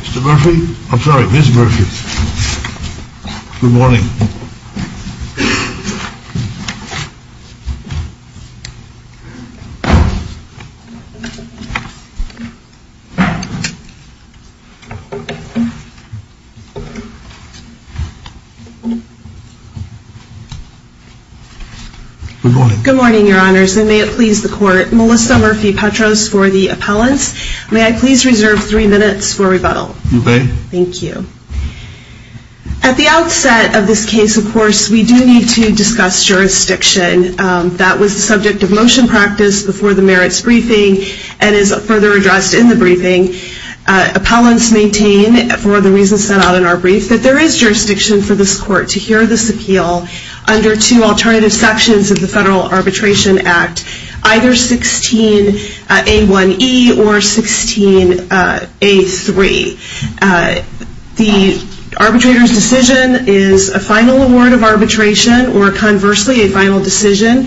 Mr. Murphy, I'm sorry, Ms. Murphy. Good morning. Good morning, Your Honors, and may it please the Court, Melissa Murphy Petros for the appellants. May I please reserve three minutes for rebuttal? You may. Thank you. At the outset of this case, of course, we do need to discuss jurisdiction. That was the subject of motion practice before the merits briefing and is further addressed in the briefing. Appellants maintain, for the reasons set out in our brief, that there is jurisdiction for this Court to hear this appeal under two alternative sections of the Federal Arbitration Act, either 16a1e or 16a3. The arbitrator's decision is a final award of arbitration or, conversely, a final decision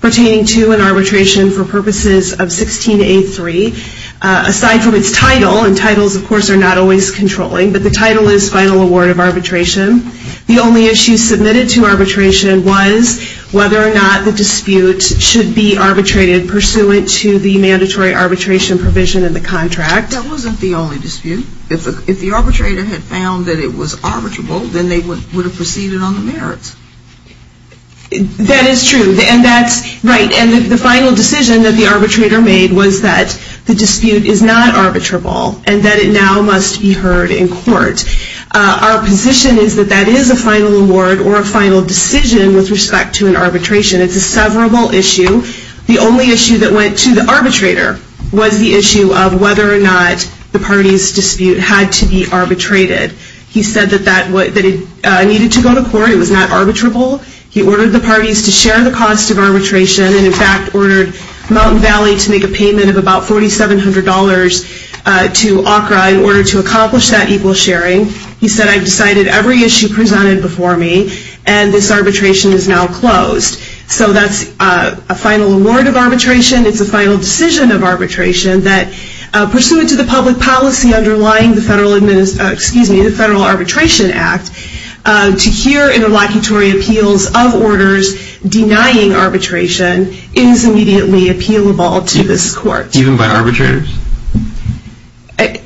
pertaining to an arbitration for purposes of 16a3. Aside from its title, and titles, of course, are not always controlling, but the title is final award of arbitration. The only issue submitted to arbitration was whether or not the dispute should be arbitrated pursuant to the mandatory arbitration provision in the contract. That wasn't the only dispute. If the arbitrator had found that it was arbitrable, then they would have proceeded on the merits. That is true. And that's right. And the final decision that the arbitrator made was that the dispute is not arbitrable and that it now must be heard in court. Our position is that that is a final award or a final decision with respect to an arbitration. It's a severable issue. The only issue that went to the arbitrator was the issue of whether or not the party's dispute had to be arbitrated. He said that it needed to go to court. It was not arbitrable. He ordered the parties to share the cost of arbitration and, in fact, ordered Mountain Valley to make a payment of about $4,700 to ACRA in order to accomplish that equal sharing. He said, I've decided every issue presented before me, and this arbitration is now closed. So that's a final award of arbitration. It's a final decision of arbitration that, pursuant to the public policy underlying the Federal Arbitration Act, to hear interlocutory appeals of orders denying arbitration is immediately appealable to this court. Even by arbitrators?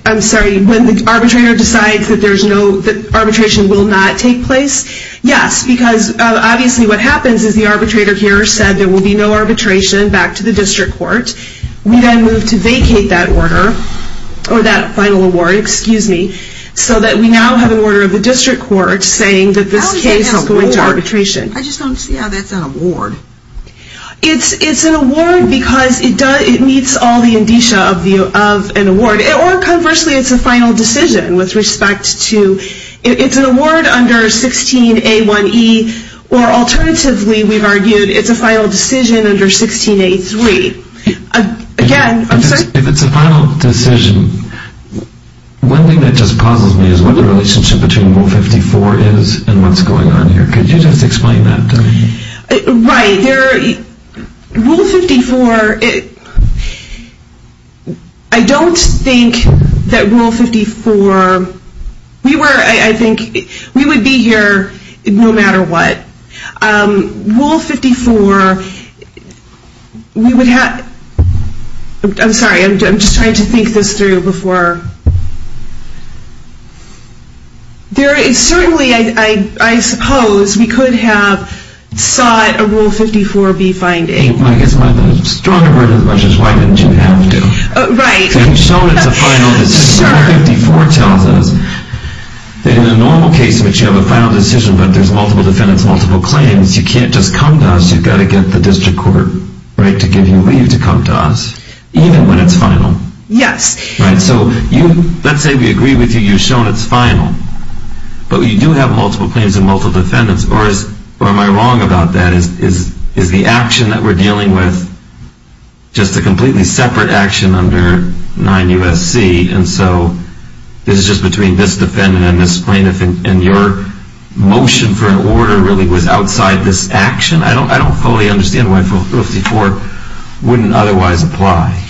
I'm sorry. When the arbitrator decides that arbitration will not take place, yes. Because, obviously, what happens is the arbitrator here said there will be no arbitration back to the district court. We then move to vacate that order, or that final award, excuse me, so that we now have an order of the district court saying that this case will go into arbitration. I just don't see how that's an award. It's an award because it meets all the indicia of an award. Or conversely, it's a final decision with respect to, it's an award under 16A1E, or alternatively, we've argued it's a final decision under 16A3. Again, I'm sorry. If it's a final decision, one thing that just puzzles me is what the relationship between Rule 54 is and what's going on here. Could you just explain that to me? Right. Rule 54, I don't think that Rule 54, we were, I think, we would be here no matter what. Rule 54, we would have, I'm sorry, I'm just trying to think this through before. There is certainly, I suppose, we could have sought a Rule 54 be finding. I guess my stronger version of the question is why didn't you have to? Right. You've shown it's a final decision. Sure. Rule 54 tells us that in a normal case in which you have a final decision, but there's multiple defendants, multiple claims, you can't just come to us. You've got to get the district court to give you leave to come to us, even when it's final. Yes. Right. So let's say we agree with you, you've shown it's final, but you do have multiple claims and multiple defendants. Or am I wrong about that? Is the action that we're dealing with just a completely separate action under 9 U.S.C.? And so this is just between this defendant and this plaintiff, and your motion for an order really was outside this action? I don't fully understand why Rule 54 wouldn't otherwise apply.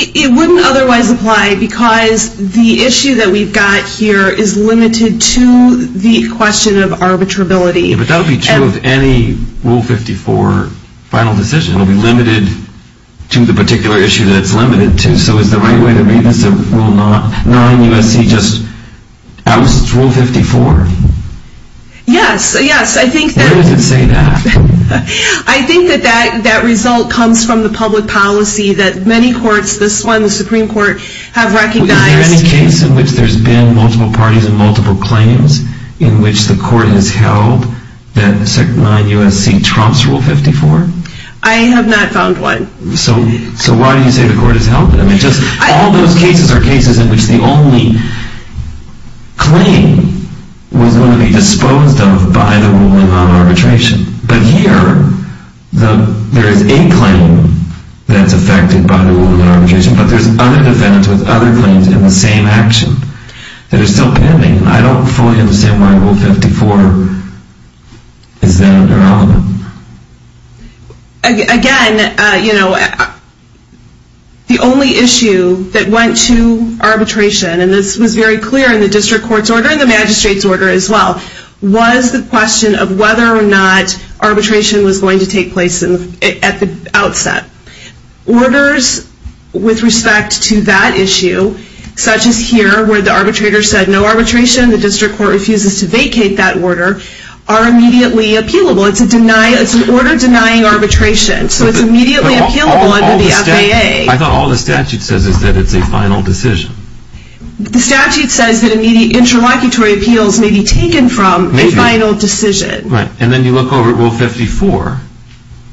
It wouldn't otherwise apply because the issue that we've got here is limited to the question of arbitrability. But that would be true of any Rule 54 final decision. It would be limited to the particular issue that it's limited to. So is the right way to read this Rule 9 U.S.C. just outs Rule 54? Yes. Yes. Where does it say that? I think that that result comes from the public policy that many courts, this one, the Supreme Court, have recognized. Is there any case in which there's been multiple parties and multiple claims in which the court has held that 9 U.S.C. trumps Rule 54? I have not found one. So why do you say the court has held it? All those cases are cases in which the only claim was going to be disposed of by the ruling on arbitration. But here there is a claim that's affected by the ruling on arbitration, but there's other defendants with other claims in the same action that are still pending. I don't fully understand why Rule 54 is then irrelevant. Again, you know, the only issue that went to arbitration, and this was very clear in the district court's order and the magistrate's order as well, was the question of whether or not arbitration was going to take place at the outset. Orders with respect to that issue, such as here where the arbitrator said no arbitration, the district court refuses to vacate that order, are immediately appealable. It's an order denying arbitration, so it's immediately appealable under the FAA. I thought all the statute says is that it's a final decision. The statute says that interlocutory appeals may be taken from a final decision. Right, and then you look over at Rule 54.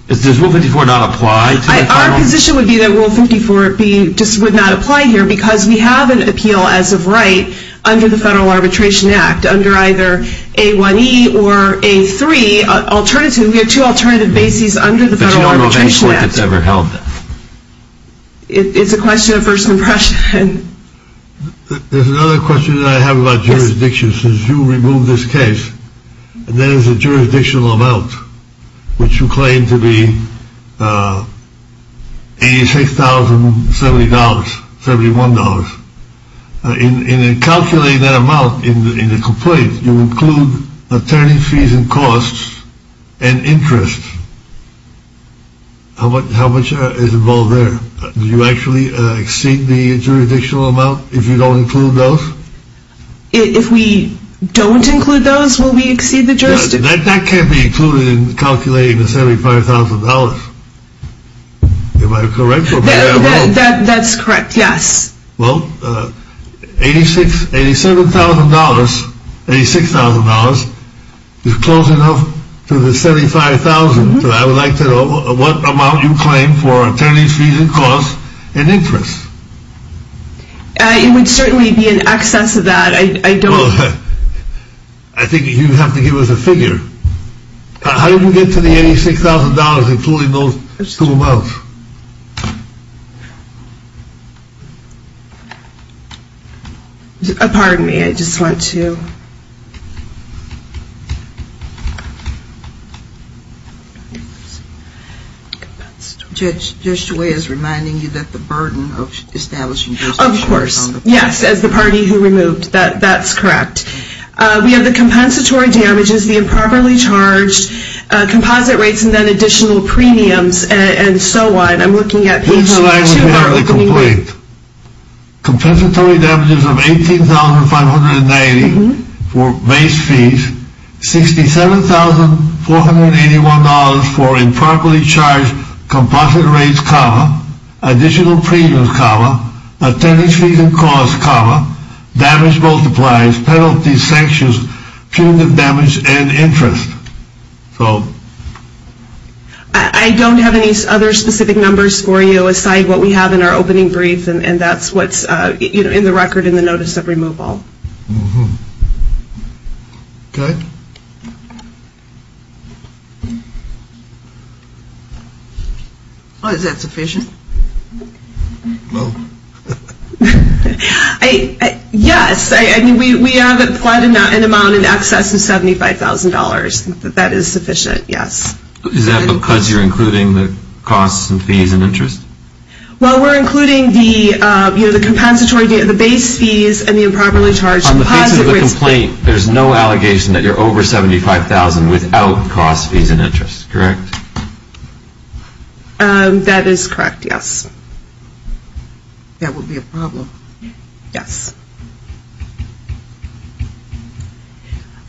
Does Rule 54 not apply to the final decision? Our position would be that Rule 54 just would not apply here because we have an appeal as of right under the Federal Arbitration Act, under either A1E or A3. We have two alternative bases under the Federal Arbitration Act. But you don't know of any court that's ever held that. It's a question of first impression. There's another question that I have about jurisdiction. Since you removed this case, there is a jurisdictional amount, which you claim to be $86,071. In calculating that amount in the complaint, you include attorney fees and costs and interest. How much is involved there? Do you actually exceed the jurisdictional amount if you don't include those? If we don't include those, will we exceed the jurisdictional amount? That can't be included in calculating the $75,000. Am I correct or am I wrong? That's correct, yes. Well, $86,000 is close enough to the $75,000. I would like to know what amount you claim for attorney fees and costs and interest. It would certainly be in excess of that. I think you have to give us a figure. How did we get to the $86,000, including those two amounts? Pardon me, I just want to. Judge DeWay is reminding you that the burden of establishing jurisdiction is on the party. Of course, yes, as the party who removed. That's correct. We have the compensatory damages, the improperly charged composite rates, and then additional premiums and so on. I'm looking at page 2 of our opening letter. Compensatory damages of $18,590 for base fees, $67,481 for improperly charged composite rates, comma, additional premiums, comma, attorney fees and costs, comma, damage multipliers, penalties, sanctions, punitive damage, and interest. I don't have any other specific numbers for you aside what we have in our opening brief, and that's what's in the record in the notice of removal. Okay. Is that sufficient? No. Yes, we have applied an amount in excess of $75,000. That is sufficient, yes. Is that because you're including the costs and fees and interest? Well, we're including the base fees and the improperly charged composite rates. On the basis of the complaint, there's no allegation that you're over $75,000 without costs, fees, and interest, correct? That is correct, yes. That would be a problem. Yes.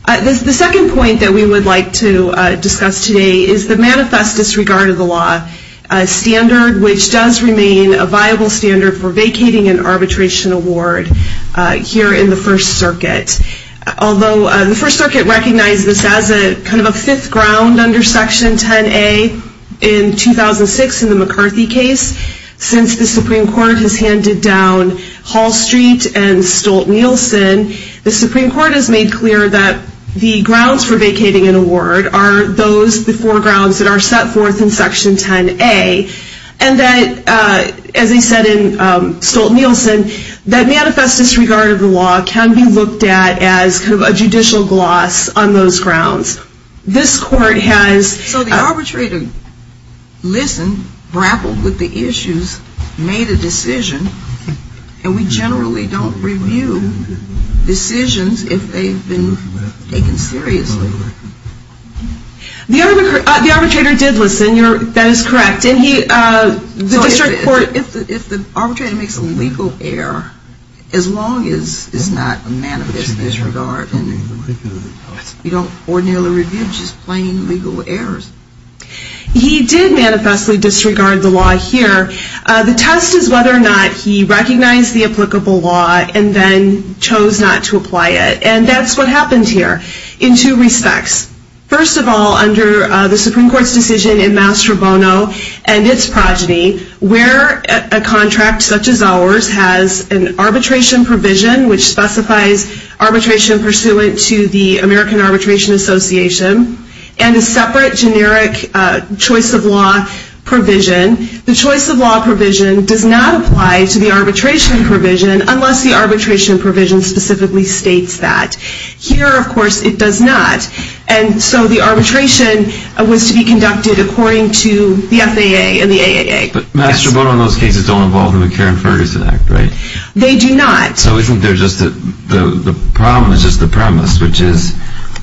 The second point that we would like to discuss today is the manifest disregard of the law, a standard which does remain a viable standard for vacating an arbitration award here in the First Circuit. Although the First Circuit recognized this as kind of a fifth ground under Section 10A in 2006 in the McCarthy case, since the Supreme Court has handed down Hall Street and Stolt-Nielsen, the Supreme Court has made clear that the grounds for vacating an award are those, the four grounds that are set forth in Section 10A, and that, as they said in Stolt-Nielsen, that manifest disregard of the law can be looked at as kind of a judicial gloss on those grounds. This Court has... So the arbitrator listened, grappled with the issues, made a decision, and we generally don't review decisions if they've been taken seriously. The arbitrator did listen. That is correct. If the arbitrator makes a legal error, as long as it's not a manifest disregard, we don't ordinarily review just plain legal errors. He did manifestly disregard the law here. The test is whether or not he recognized the applicable law and then chose not to apply it, and that's what happened here in two respects. First of all, under the Supreme Court's decision in Mastro Bono and its progeny, where a contract such as ours has an arbitration provision which specifies arbitration pursuant to the American Arbitration Association and a separate generic choice of law provision, the choice of law provision does not apply to the arbitration provision unless the arbitration provision specifically states that. Here, of course, it does not, and so the arbitration was to be conducted according to the FAA and the AAA. But Mastro Bono and those cases don't involve the McGarren-Ferguson Act, right? They do not. So isn't there just the problem is just the premise, which is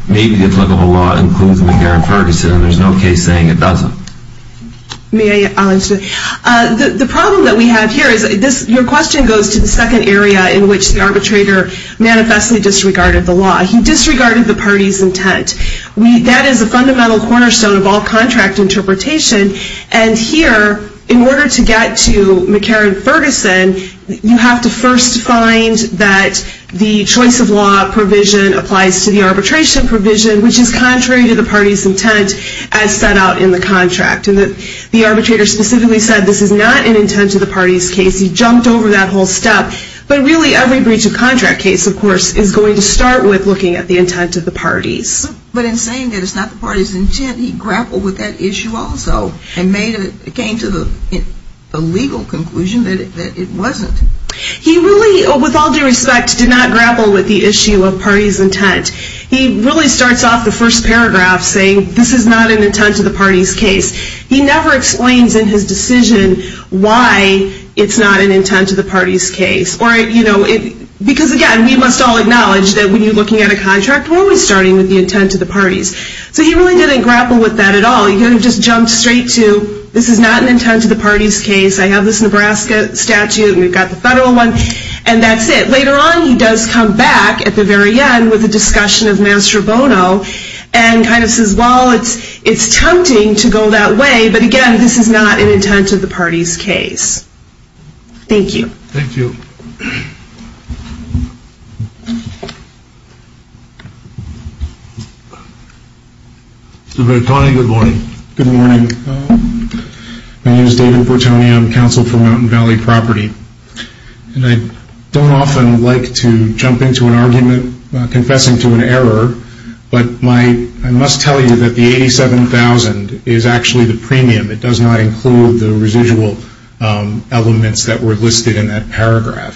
maybe the applicable law includes McGarren-Ferguson and there's no case saying it doesn't. May I answer? The problem that we have here is your question goes to the second area in which the arbitrator manifestly disregarded the law. He disregarded the party's intent. That is a fundamental cornerstone of all contract interpretation, and here, in order to get to McGarren-Ferguson, you have to first find that the choice of law provision applies to the arbitration provision, which is contrary to the party's intent as set out in the contract. The arbitrator specifically said this is not an intent to the party's case. He jumped over that whole step. But really every breach of contract case, of course, is going to start with looking at the intent of the parties. But in saying that it's not the party's intent, he grappled with that issue also and came to the legal conclusion that it wasn't. He really, with all due respect, did not grapple with the issue of party's intent. He really starts off the first paragraph saying, this is not an intent to the party's case. He never explains in his decision why it's not an intent to the party's case. Because, again, we must all acknowledge that when you're looking at a contract, we're always starting with the intent of the parties. So he really didn't grapple with that at all. He kind of just jumped straight to, this is not an intent to the party's case. I have this Nebraska statute, and we've got the federal one, and that's it. Later on, he does come back at the very end with a discussion of master bono and kind of says, well, it's tempting to go that way, but, again, this is not an intent to the party's case. Thank you. Thank you. Mr. Bertoni, good morning. Good morning. My name is David Bertoni. I'm counsel for Mountain Valley Property. And I don't often like to jump into an argument confessing to an error, but I must tell you that the $87,000 is actually the premium. It does not include the residual elements that were listed in that paragraph.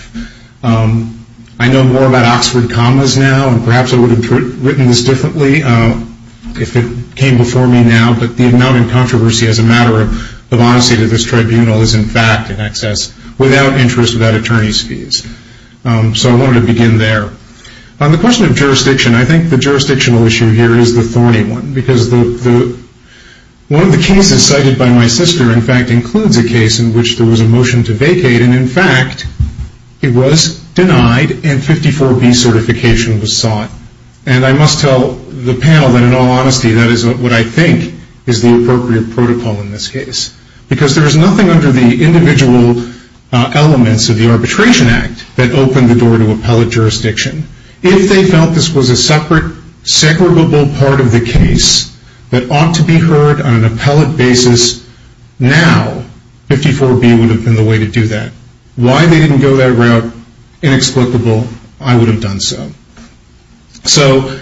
I know more about Oxford commas now, and perhaps I would have written this differently if it came before me now, but the amount in controversy as a matter of honesty to this tribunal is, in fact, in excess, without interest, without attorney's fees. So I wanted to begin there. On the question of jurisdiction, I think the jurisdictional issue here is the thorny one because one of the cases cited by my sister, in fact, includes a case in which there was a motion to vacate, and, in fact, it was denied and 54B certification was sought. And I must tell the panel that, in all honesty, that is what I think is the appropriate protocol in this case because there is nothing under the individual elements of the Arbitration Act that opened the door to appellate jurisdiction. If they felt this was a separate, separable part of the case that ought to be heard on an appellate basis now, 54B would have been the way to do that. Why they didn't go that route, inexplicable, I would have done so. So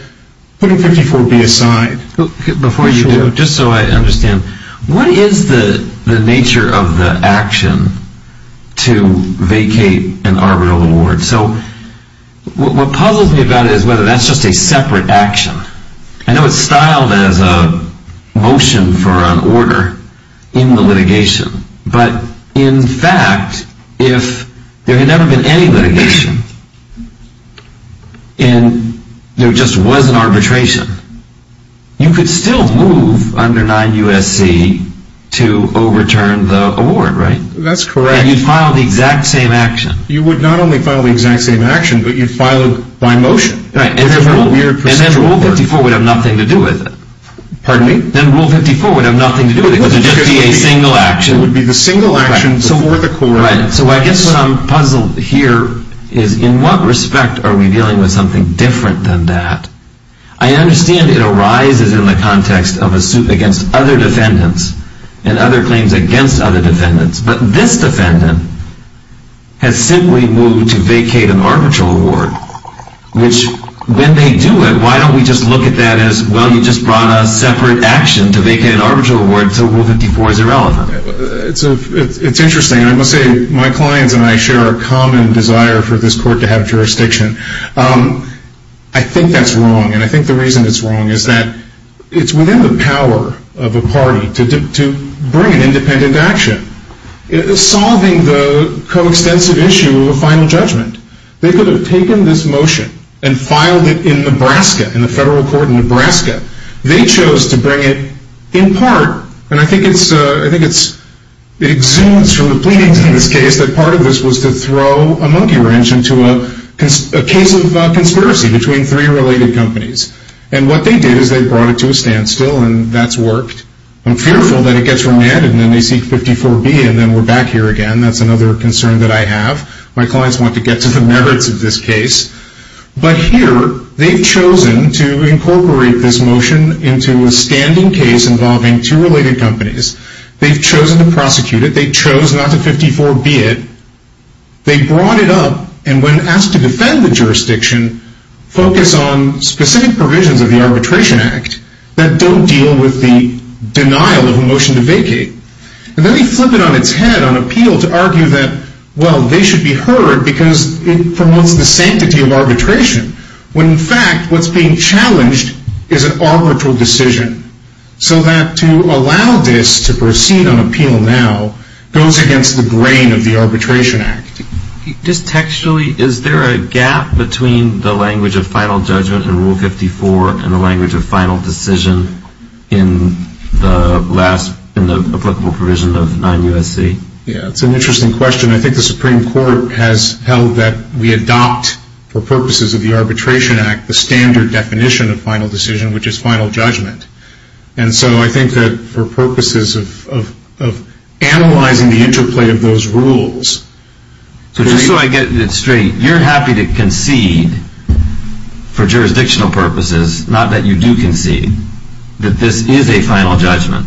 putting 54B aside... Before you do, just so I understand, what is the nature of the action to vacate an arbitral award? So what puzzles me about it is whether that's just a separate action. I know it's styled as a motion for an order in the litigation, but, in fact, if there had never been any litigation and there just was an arbitration, you could still move under 9 U.S.C. to overturn the award, right? That's correct. And you'd file the exact same action. You would not only file the exact same action, but you'd file it by motion. And then Rule 54 would have nothing to do with it. Pardon me? Then Rule 54 would have nothing to do with it. It would just be a single action. It would be the single action before the court. So I guess what I'm puzzled here is, in what respect are we dealing with something different than that? I understand it arises in the context of a suit against other defendants and other claims against other defendants, but this defendant has simply moved to vacate an arbitral award, which, when they do it, why don't we just look at that as, well, you just brought a separate action to vacate an arbitral award, so Rule 54 is irrelevant. It's interesting. I must say my clients and I share a common desire for this court to have jurisdiction. I think that's wrong, and I think the reason it's wrong is that it's within the power of a party to bring an independent action, solving the coextensive issue of a final judgment. They could have taken this motion and filed it in Nebraska, in the federal court in Nebraska. They chose to bring it in part, and I think it exudes from the pleadings in this case that part of this was to throw a monkey wrench into a case of conspiracy between three related companies, and what they did is they brought it to a standstill, and that's worked. I'm fearful that it gets remanded, and then they seek 54B, and then we're back here again. That's another concern that I have. My clients want to get to the merits of this case, but here they've chosen to incorporate this motion into a standing case involving two related companies. They've chosen to prosecute it. They chose not to 54B it. They brought it up, and when asked to defend the jurisdiction, focus on specific provisions of the Arbitration Act that don't deal with the denial of a motion to vacate, and then they flip it on its head on appeal to argue that, well, they should be heard because it promotes the sanctity of arbitration, when in fact what's being challenged is an arbitral decision, so that to allow this to proceed on appeal now goes against the grain of the Arbitration Act. Just textually, is there a gap between the language of final judgment in Rule 54 and the language of final decision in the applicable provision of 9 U.S.C.? Yeah, it's an interesting question. I think the Supreme Court has held that we adopt, for purposes of the Arbitration Act, the standard definition of final decision, which is final judgment, and so I think that for purposes of analyzing the interplay of those rules. So just so I get it straight, you're happy to concede, for jurisdictional purposes, not that you do concede, that this is a final judgment,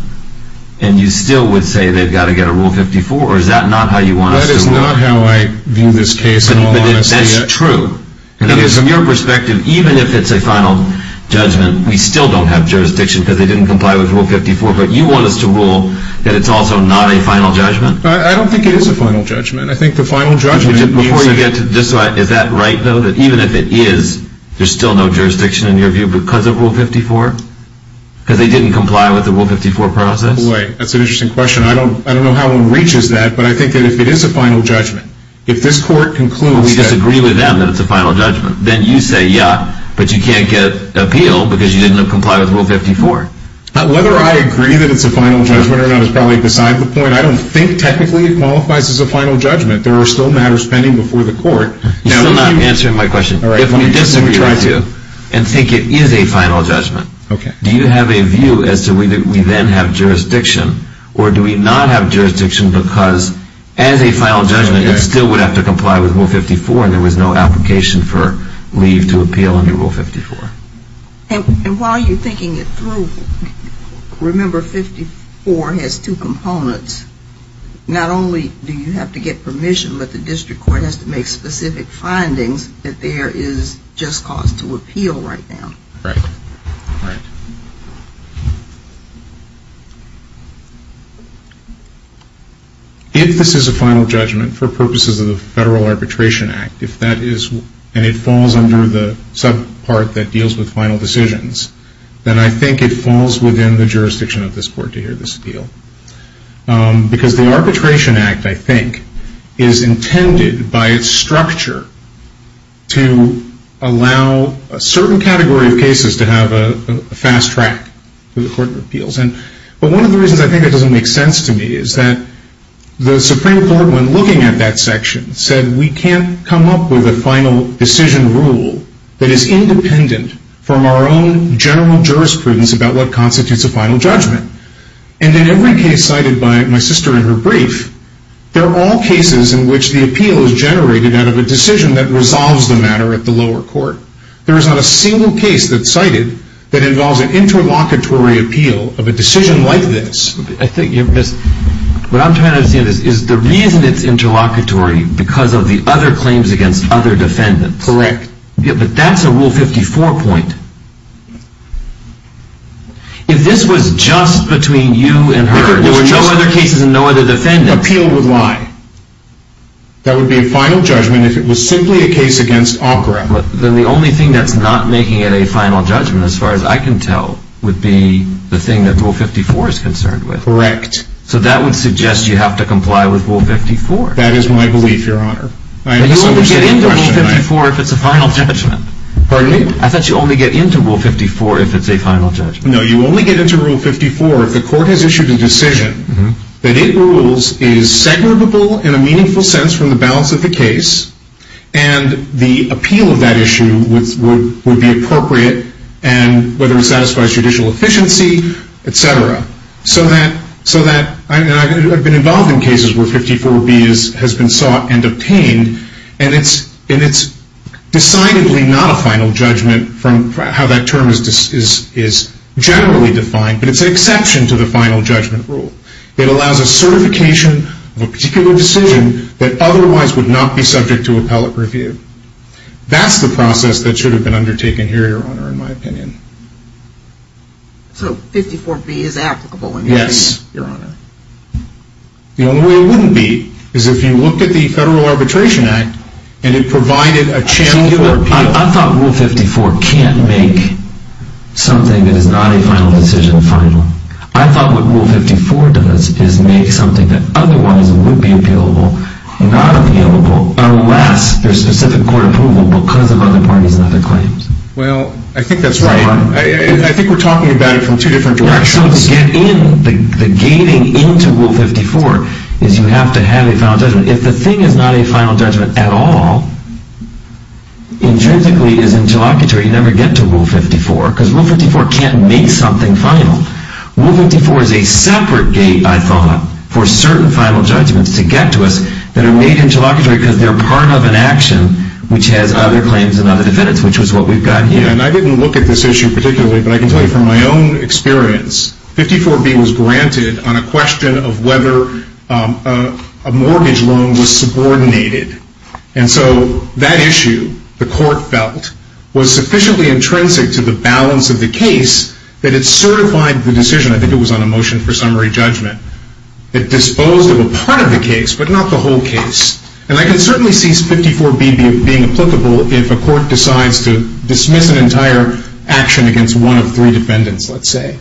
and you still would say they've got to get a Rule 54, or is that not how you want us to work? That is not how I view this case in all honesty. But that's true, because from your perspective, even if it's a final judgment, we still don't have jurisdiction, because they didn't comply with Rule 54, but you want us to rule that it's also not a final judgment? I don't think it is a final judgment. I think the final judgment means that... Before you get to this, is that right, though, that even if it is, there's still no jurisdiction, in your view, because of Rule 54? Because they didn't comply with the Rule 54 process? Wait, that's an interesting question. I don't know how one reaches that, but I think that if it is a final judgment, if this Court concludes that... We disagree with them that it's a final judgment, then you say, yeah, but you can't get appeal, because you didn't comply with Rule 54. Whether I agree that it's a final judgment or not is probably beside the point. I don't think technically it qualifies as a final judgment. There are still matters pending before the Court. You're still not answering my question. If we disagree with you, and think it is a final judgment, do you have a view as to whether we then have jurisdiction, or do we not have jurisdiction, because as a final judgment, it still would have to comply with Rule 54, and there was no application for leave to appeal under Rule 54. And while you're thinking it through, remember 54 has two components. Not only do you have to get permission, but the District Court has to make specific findings that there is just cause to appeal right now. Right. Right. If this is a final judgment for purposes of the Federal Arbitration Act, and it falls under the subpart that deals with final decisions, then I think it falls within the jurisdiction of this Court to hear this appeal. Because the Arbitration Act, I think, is intended by its structure to allow a certain category of cases to have a fast track to the Court of Appeals. But one of the reasons I think that doesn't make sense to me is that the Supreme Court, when looking at that section, said we can't come up with a final decision rule that is independent from our own general jurisprudence about what constitutes a final judgment. And in every case cited by my sister in her brief, they're all cases in which the appeal is generated out of a decision that resolves the matter at the lower court. There is not a single case that's cited that involves an interlocutory appeal of a decision like this. What I'm trying to understand is the reason it's interlocutory because of the other claims against other defendants. Correct. But that's a Rule 54 point. If this was just between you and her, if there were no other cases and no other defendants... Appeal would lie. That would be a final judgment if it was simply a case against Ankara. Then the only thing that's not making it a final judgment, as far as I can tell, would be the thing that Rule 54 is concerned with. Correct. So that would suggest you have to comply with Rule 54. That is my belief, Your Honor. You only get into Rule 54 if it's a final judgment. Pardon me? I thought you only get into Rule 54 if it's a final judgment. No, you only get into Rule 54 if the court has issued a decision that it rules is segregable in a meaningful sense from the balance of the case and the appeal of that issue would be appropriate and whether it satisfies judicial efficiency, etc. So that... I've been involved in cases where 54B has been sought and obtained and it's decidedly not a final judgment from how that term is generally defined, but it's an exception to the final judgment rule. It allows a certification of a particular decision that otherwise would not be subject to appellate review. That's the process that should have been undertaken here, Your Honor, in my opinion. So 54B is applicable in my opinion? Yes, Your Honor. The only way it wouldn't be is if you looked at the Federal Arbitration Act and it provided a channel for appeal. I thought Rule 54 can't make something that is not a final decision final. I thought what Rule 54 does is make something that otherwise would be appealable not appealable unless there's specific court approval because of other parties and other claims. Well, I think that's right. I think we're talking about it from two different directions. So to get in, the gating into Rule 54 is you have to have a final judgment. If the thing is not a final judgment at all, intrinsically is interlocutory, you never get to Rule 54 because Rule 54 can't make something final. Rule 54 is a separate gate, I thought, for certain final judgments to get to us that are made interlocutory because they're part of an action which has other claims and other defendants, which is what we've got here. And I didn't look at this issue particularly, but I can tell you from my own experience, 54B was granted on a question of whether a mortgage loan was subordinated. And so that issue, the court felt, was sufficiently intrinsic to the balance of the case that it certified the decision. I think it was on a motion for summary judgment. It disposed of a part of the case, but not the whole case. And I can certainly see 54B being applicable if a court decides to dismiss an entire action against one of three defendants, let's say.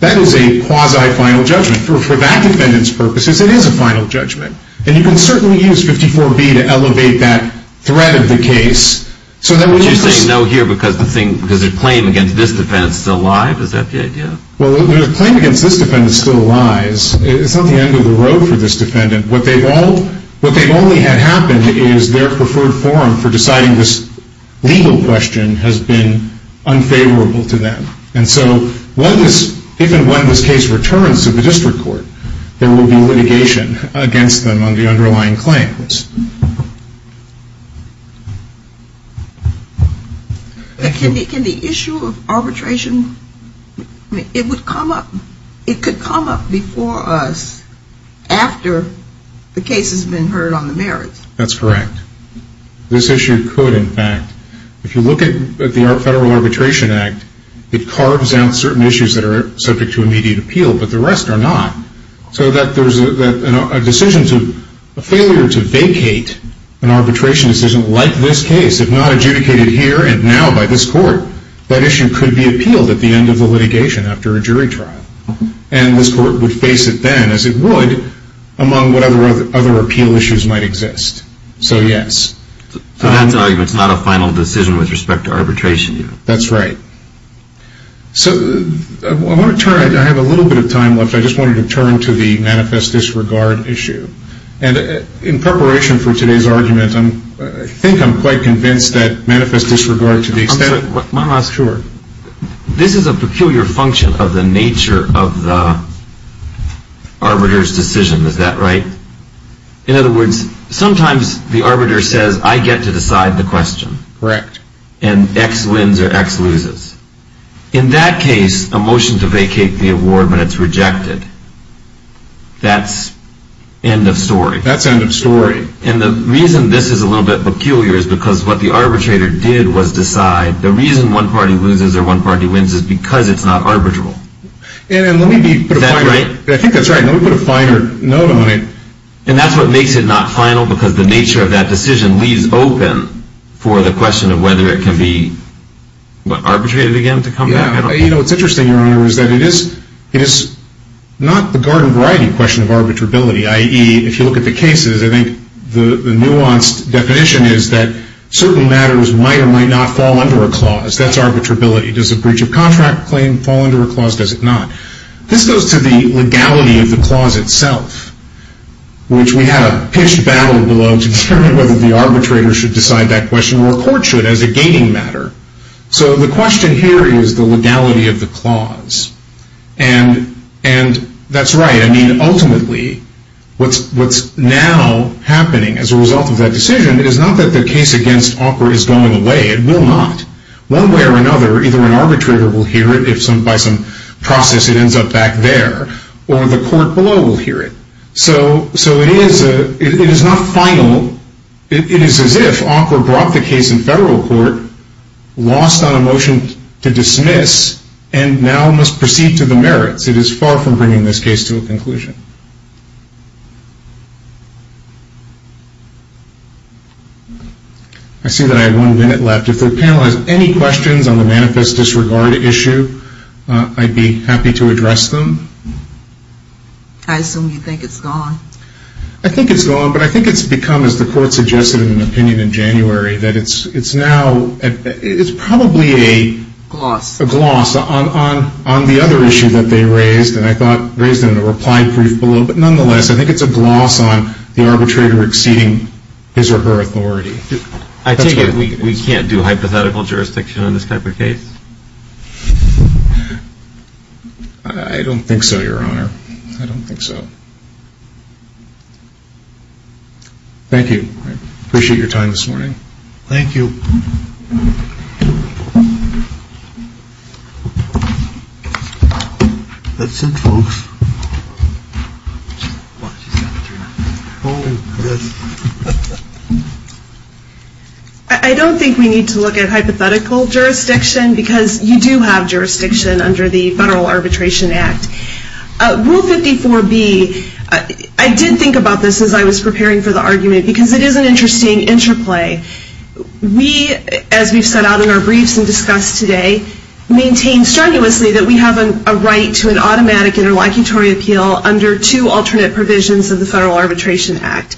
That is a quasi-final judgment. For that defendant's purposes, it is a final judgment. And you can certainly use 54B to elevate that threat of the case. But you're saying no here because the claim against this defendant is still alive? Is that the idea? Well, the claim against this defendant still lies. It's not the end of the road for this defendant. What they've only had happen is their preferred forum for deciding this legal question has been unfavorable to them. And so if and when this case returns to the district court, there will be litigation against them on the underlying claims. Can the issue of arbitration, it would come up, it could come up before us after the case has been heard on the merits? That's correct. This issue could, in fact. If you look at the Federal Arbitration Act, it carves out certain issues that are subject to immediate appeal, but the rest are not. So that there's a decision to, a failure to vacate an arbitration decision like this case, if not adjudicated here and now by this court, that issue could be appealed at the end of the litigation after a jury trial. And this court would face it then, as it would, among what other appeal issues might exist. So, yes. So that argument's not a final decision with respect to arbitration yet. That's right. So I want to turn, I have a little bit of time left, I just wanted to turn to the manifest disregard issue. And in preparation for today's argument, I think I'm quite convinced that manifest disregard to the extent of My last word. This is a peculiar function of the nature of the arbiter's decision, is that right? In other words, sometimes the arbiter says, I get to decide the question. Correct. And X wins or X loses. In that case, a motion to vacate the award when it's rejected, that's end of story. That's end of story. And the reason this is a little bit peculiar is because what the arbitrator did was decide, the reason one party loses or one party wins is because it's not arbitral. And let me be, is that right? I think that's right. Let me put a finer note on it. And that's what makes it not final because the nature of that decision leaves open for the question of whether it can be, what, arbitrated again to come back? Yeah. You know, what's interesting, Your Honor, is that it is not the garden variety question of arbitrability, i.e., if you look at the cases, I think the nuanced definition is that certain matters might or might not fall under a clause. That's arbitrability. Does a breach of contract claim fall under a clause? Does it not? This goes to the legality of the clause itself, which we had a pitched battle below to determine whether the arbitrator should decide that question or a court should as a gaining matter. So the question here is the legality of the clause. And that's right. I mean, ultimately, what's now happening as a result of that decision, it is not that the case against Auker is going away. It will not. One way or another, either an arbitrator will hear it if by some process it ends up back there, or the court below will hear it. So it is not final. It is as if Auker brought the case in federal court, lost on a motion to dismiss, and now must proceed to the merits. It is far from bringing this case to a conclusion. I see that I have one minute left. If the panel has any questions on the manifest disregard issue, I'd be happy to address them. I assume you think it's gone. I think it's gone, but I think it's become, as the court suggested in an opinion in January, that it's now, it's probably a gloss on the other issue that they raised, and I thought raised in a reply brief below. But nonetheless, I think it's a gloss on the arbitrator exceeding his or her authority. I take it we can't do hypothetical jurisdiction on this type of case? I don't think so, Your Honor. I don't think so. Thank you. Appreciate your time this morning. Thank you. That's it, folks. I don't think we need to look at hypothetical jurisdiction, because you do have jurisdiction under the Federal Arbitration Act. Rule 54B, I did think about this as I was preparing for the argument, because it is an interesting interplay. We, as we've set out in our briefs and discussed today, maintain strenuously that we have a right to an automatic interlocutory appeal under two alternate provisions of the Federal Arbitration Act.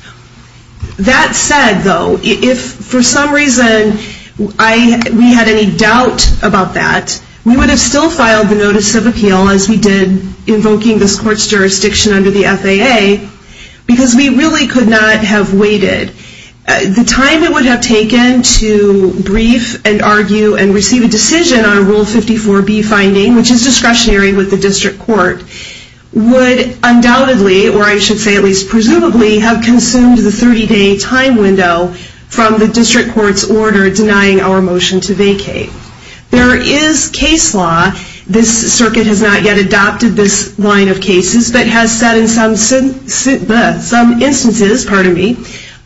That said, though, if for some reason we had any doubt about that, we would have still filed the notice of appeal, as we did invoking this court's jurisdiction under the FAA, because we really could not have waited. The time it would have taken to brief and argue and receive a decision on Rule 54B finding, which is discretionary with the district court, would undoubtedly, or I should say at least presumably, have consumed the 30-day time window from the district court's order denying our motion to vacate. It's just that it has said in some instances, pardon me,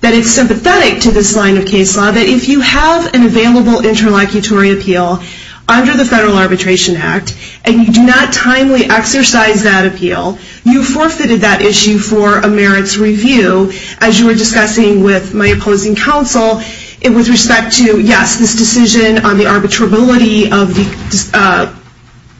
that it's sympathetic to this line of case law that if you have an available interlocutory appeal under the Federal Arbitration Act, and you do not timely exercise that appeal, you forfeited that issue for a merits review. As you were discussing with my opposing counsel, with respect to, yes, this decision on the arbitrability of the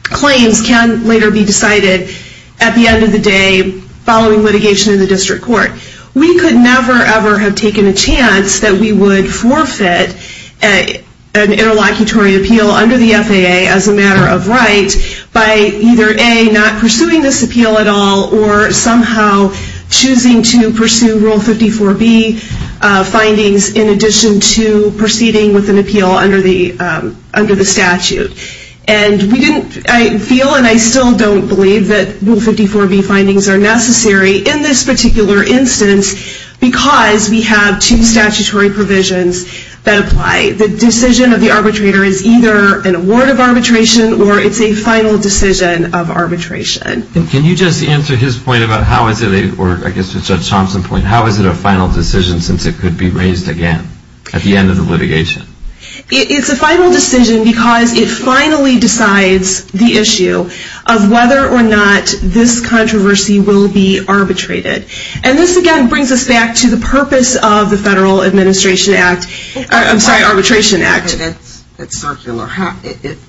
claims can later be decided at the end of the day, following litigation in the district court. We could never, ever have taken a chance that we would forfeit an interlocutory appeal under the FAA as a matter of right by either, A, not pursuing this appeal at all, or somehow choosing to pursue Rule 54B findings in addition to proceeding with an appeal under the statute. And I feel and I still don't believe that Rule 54B findings are necessary in this particular instance because we have two statutory provisions that apply. The decision of the arbitrator is either an award of arbitration or it's a final decision of arbitration. Can you just answer his point about how is it, or I guess Judge Thompson's point, how is it a final decision since it could be raised again at the end of the litigation? It's a final decision because it finally decides the issue of whether or not this controversy will be arbitrated. And this, again, brings us back to the purpose of the Federal Administration Act, I'm sorry, Arbitration Act. That's circular.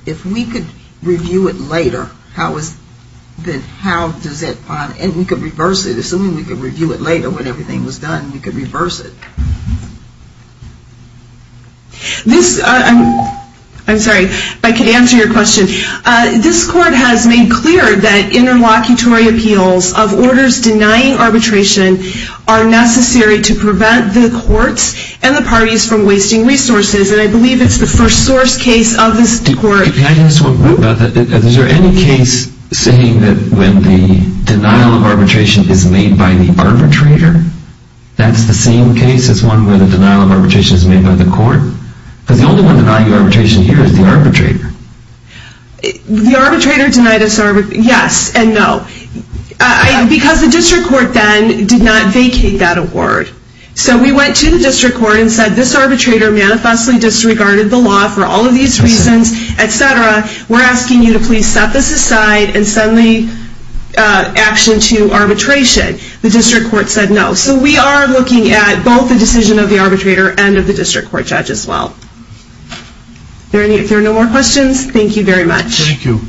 If we could review it later, how does that, and we could reverse it, assuming we could review it later when everything was done, we could reverse it. This, I'm sorry, if I could answer your question. This Court has made clear that interlocutory appeals of orders denying arbitration are necessary to prevent the courts and the parties from wasting resources, and I believe it's the first source case of this Court. If I could ask one more about that. Is there any case saying that when the denial of arbitration is made by the arbitrator, that's the same case as one where the denial of arbitration is made by the court? Because the only one denying arbitration here is the arbitrator. The arbitrator denied us arbitration. Yes and no. Because the District Court then did not vacate that award. So we went to the District Court and said, this arbitrator manifestly disregarded the law for all of these reasons, et cetera. We're asking you to please set this aside and send the action to arbitration. The District Court said no. So we are looking at both the decision of the arbitrator and of the District Court judge as well. If there are no more questions, thank you very much. Thank you.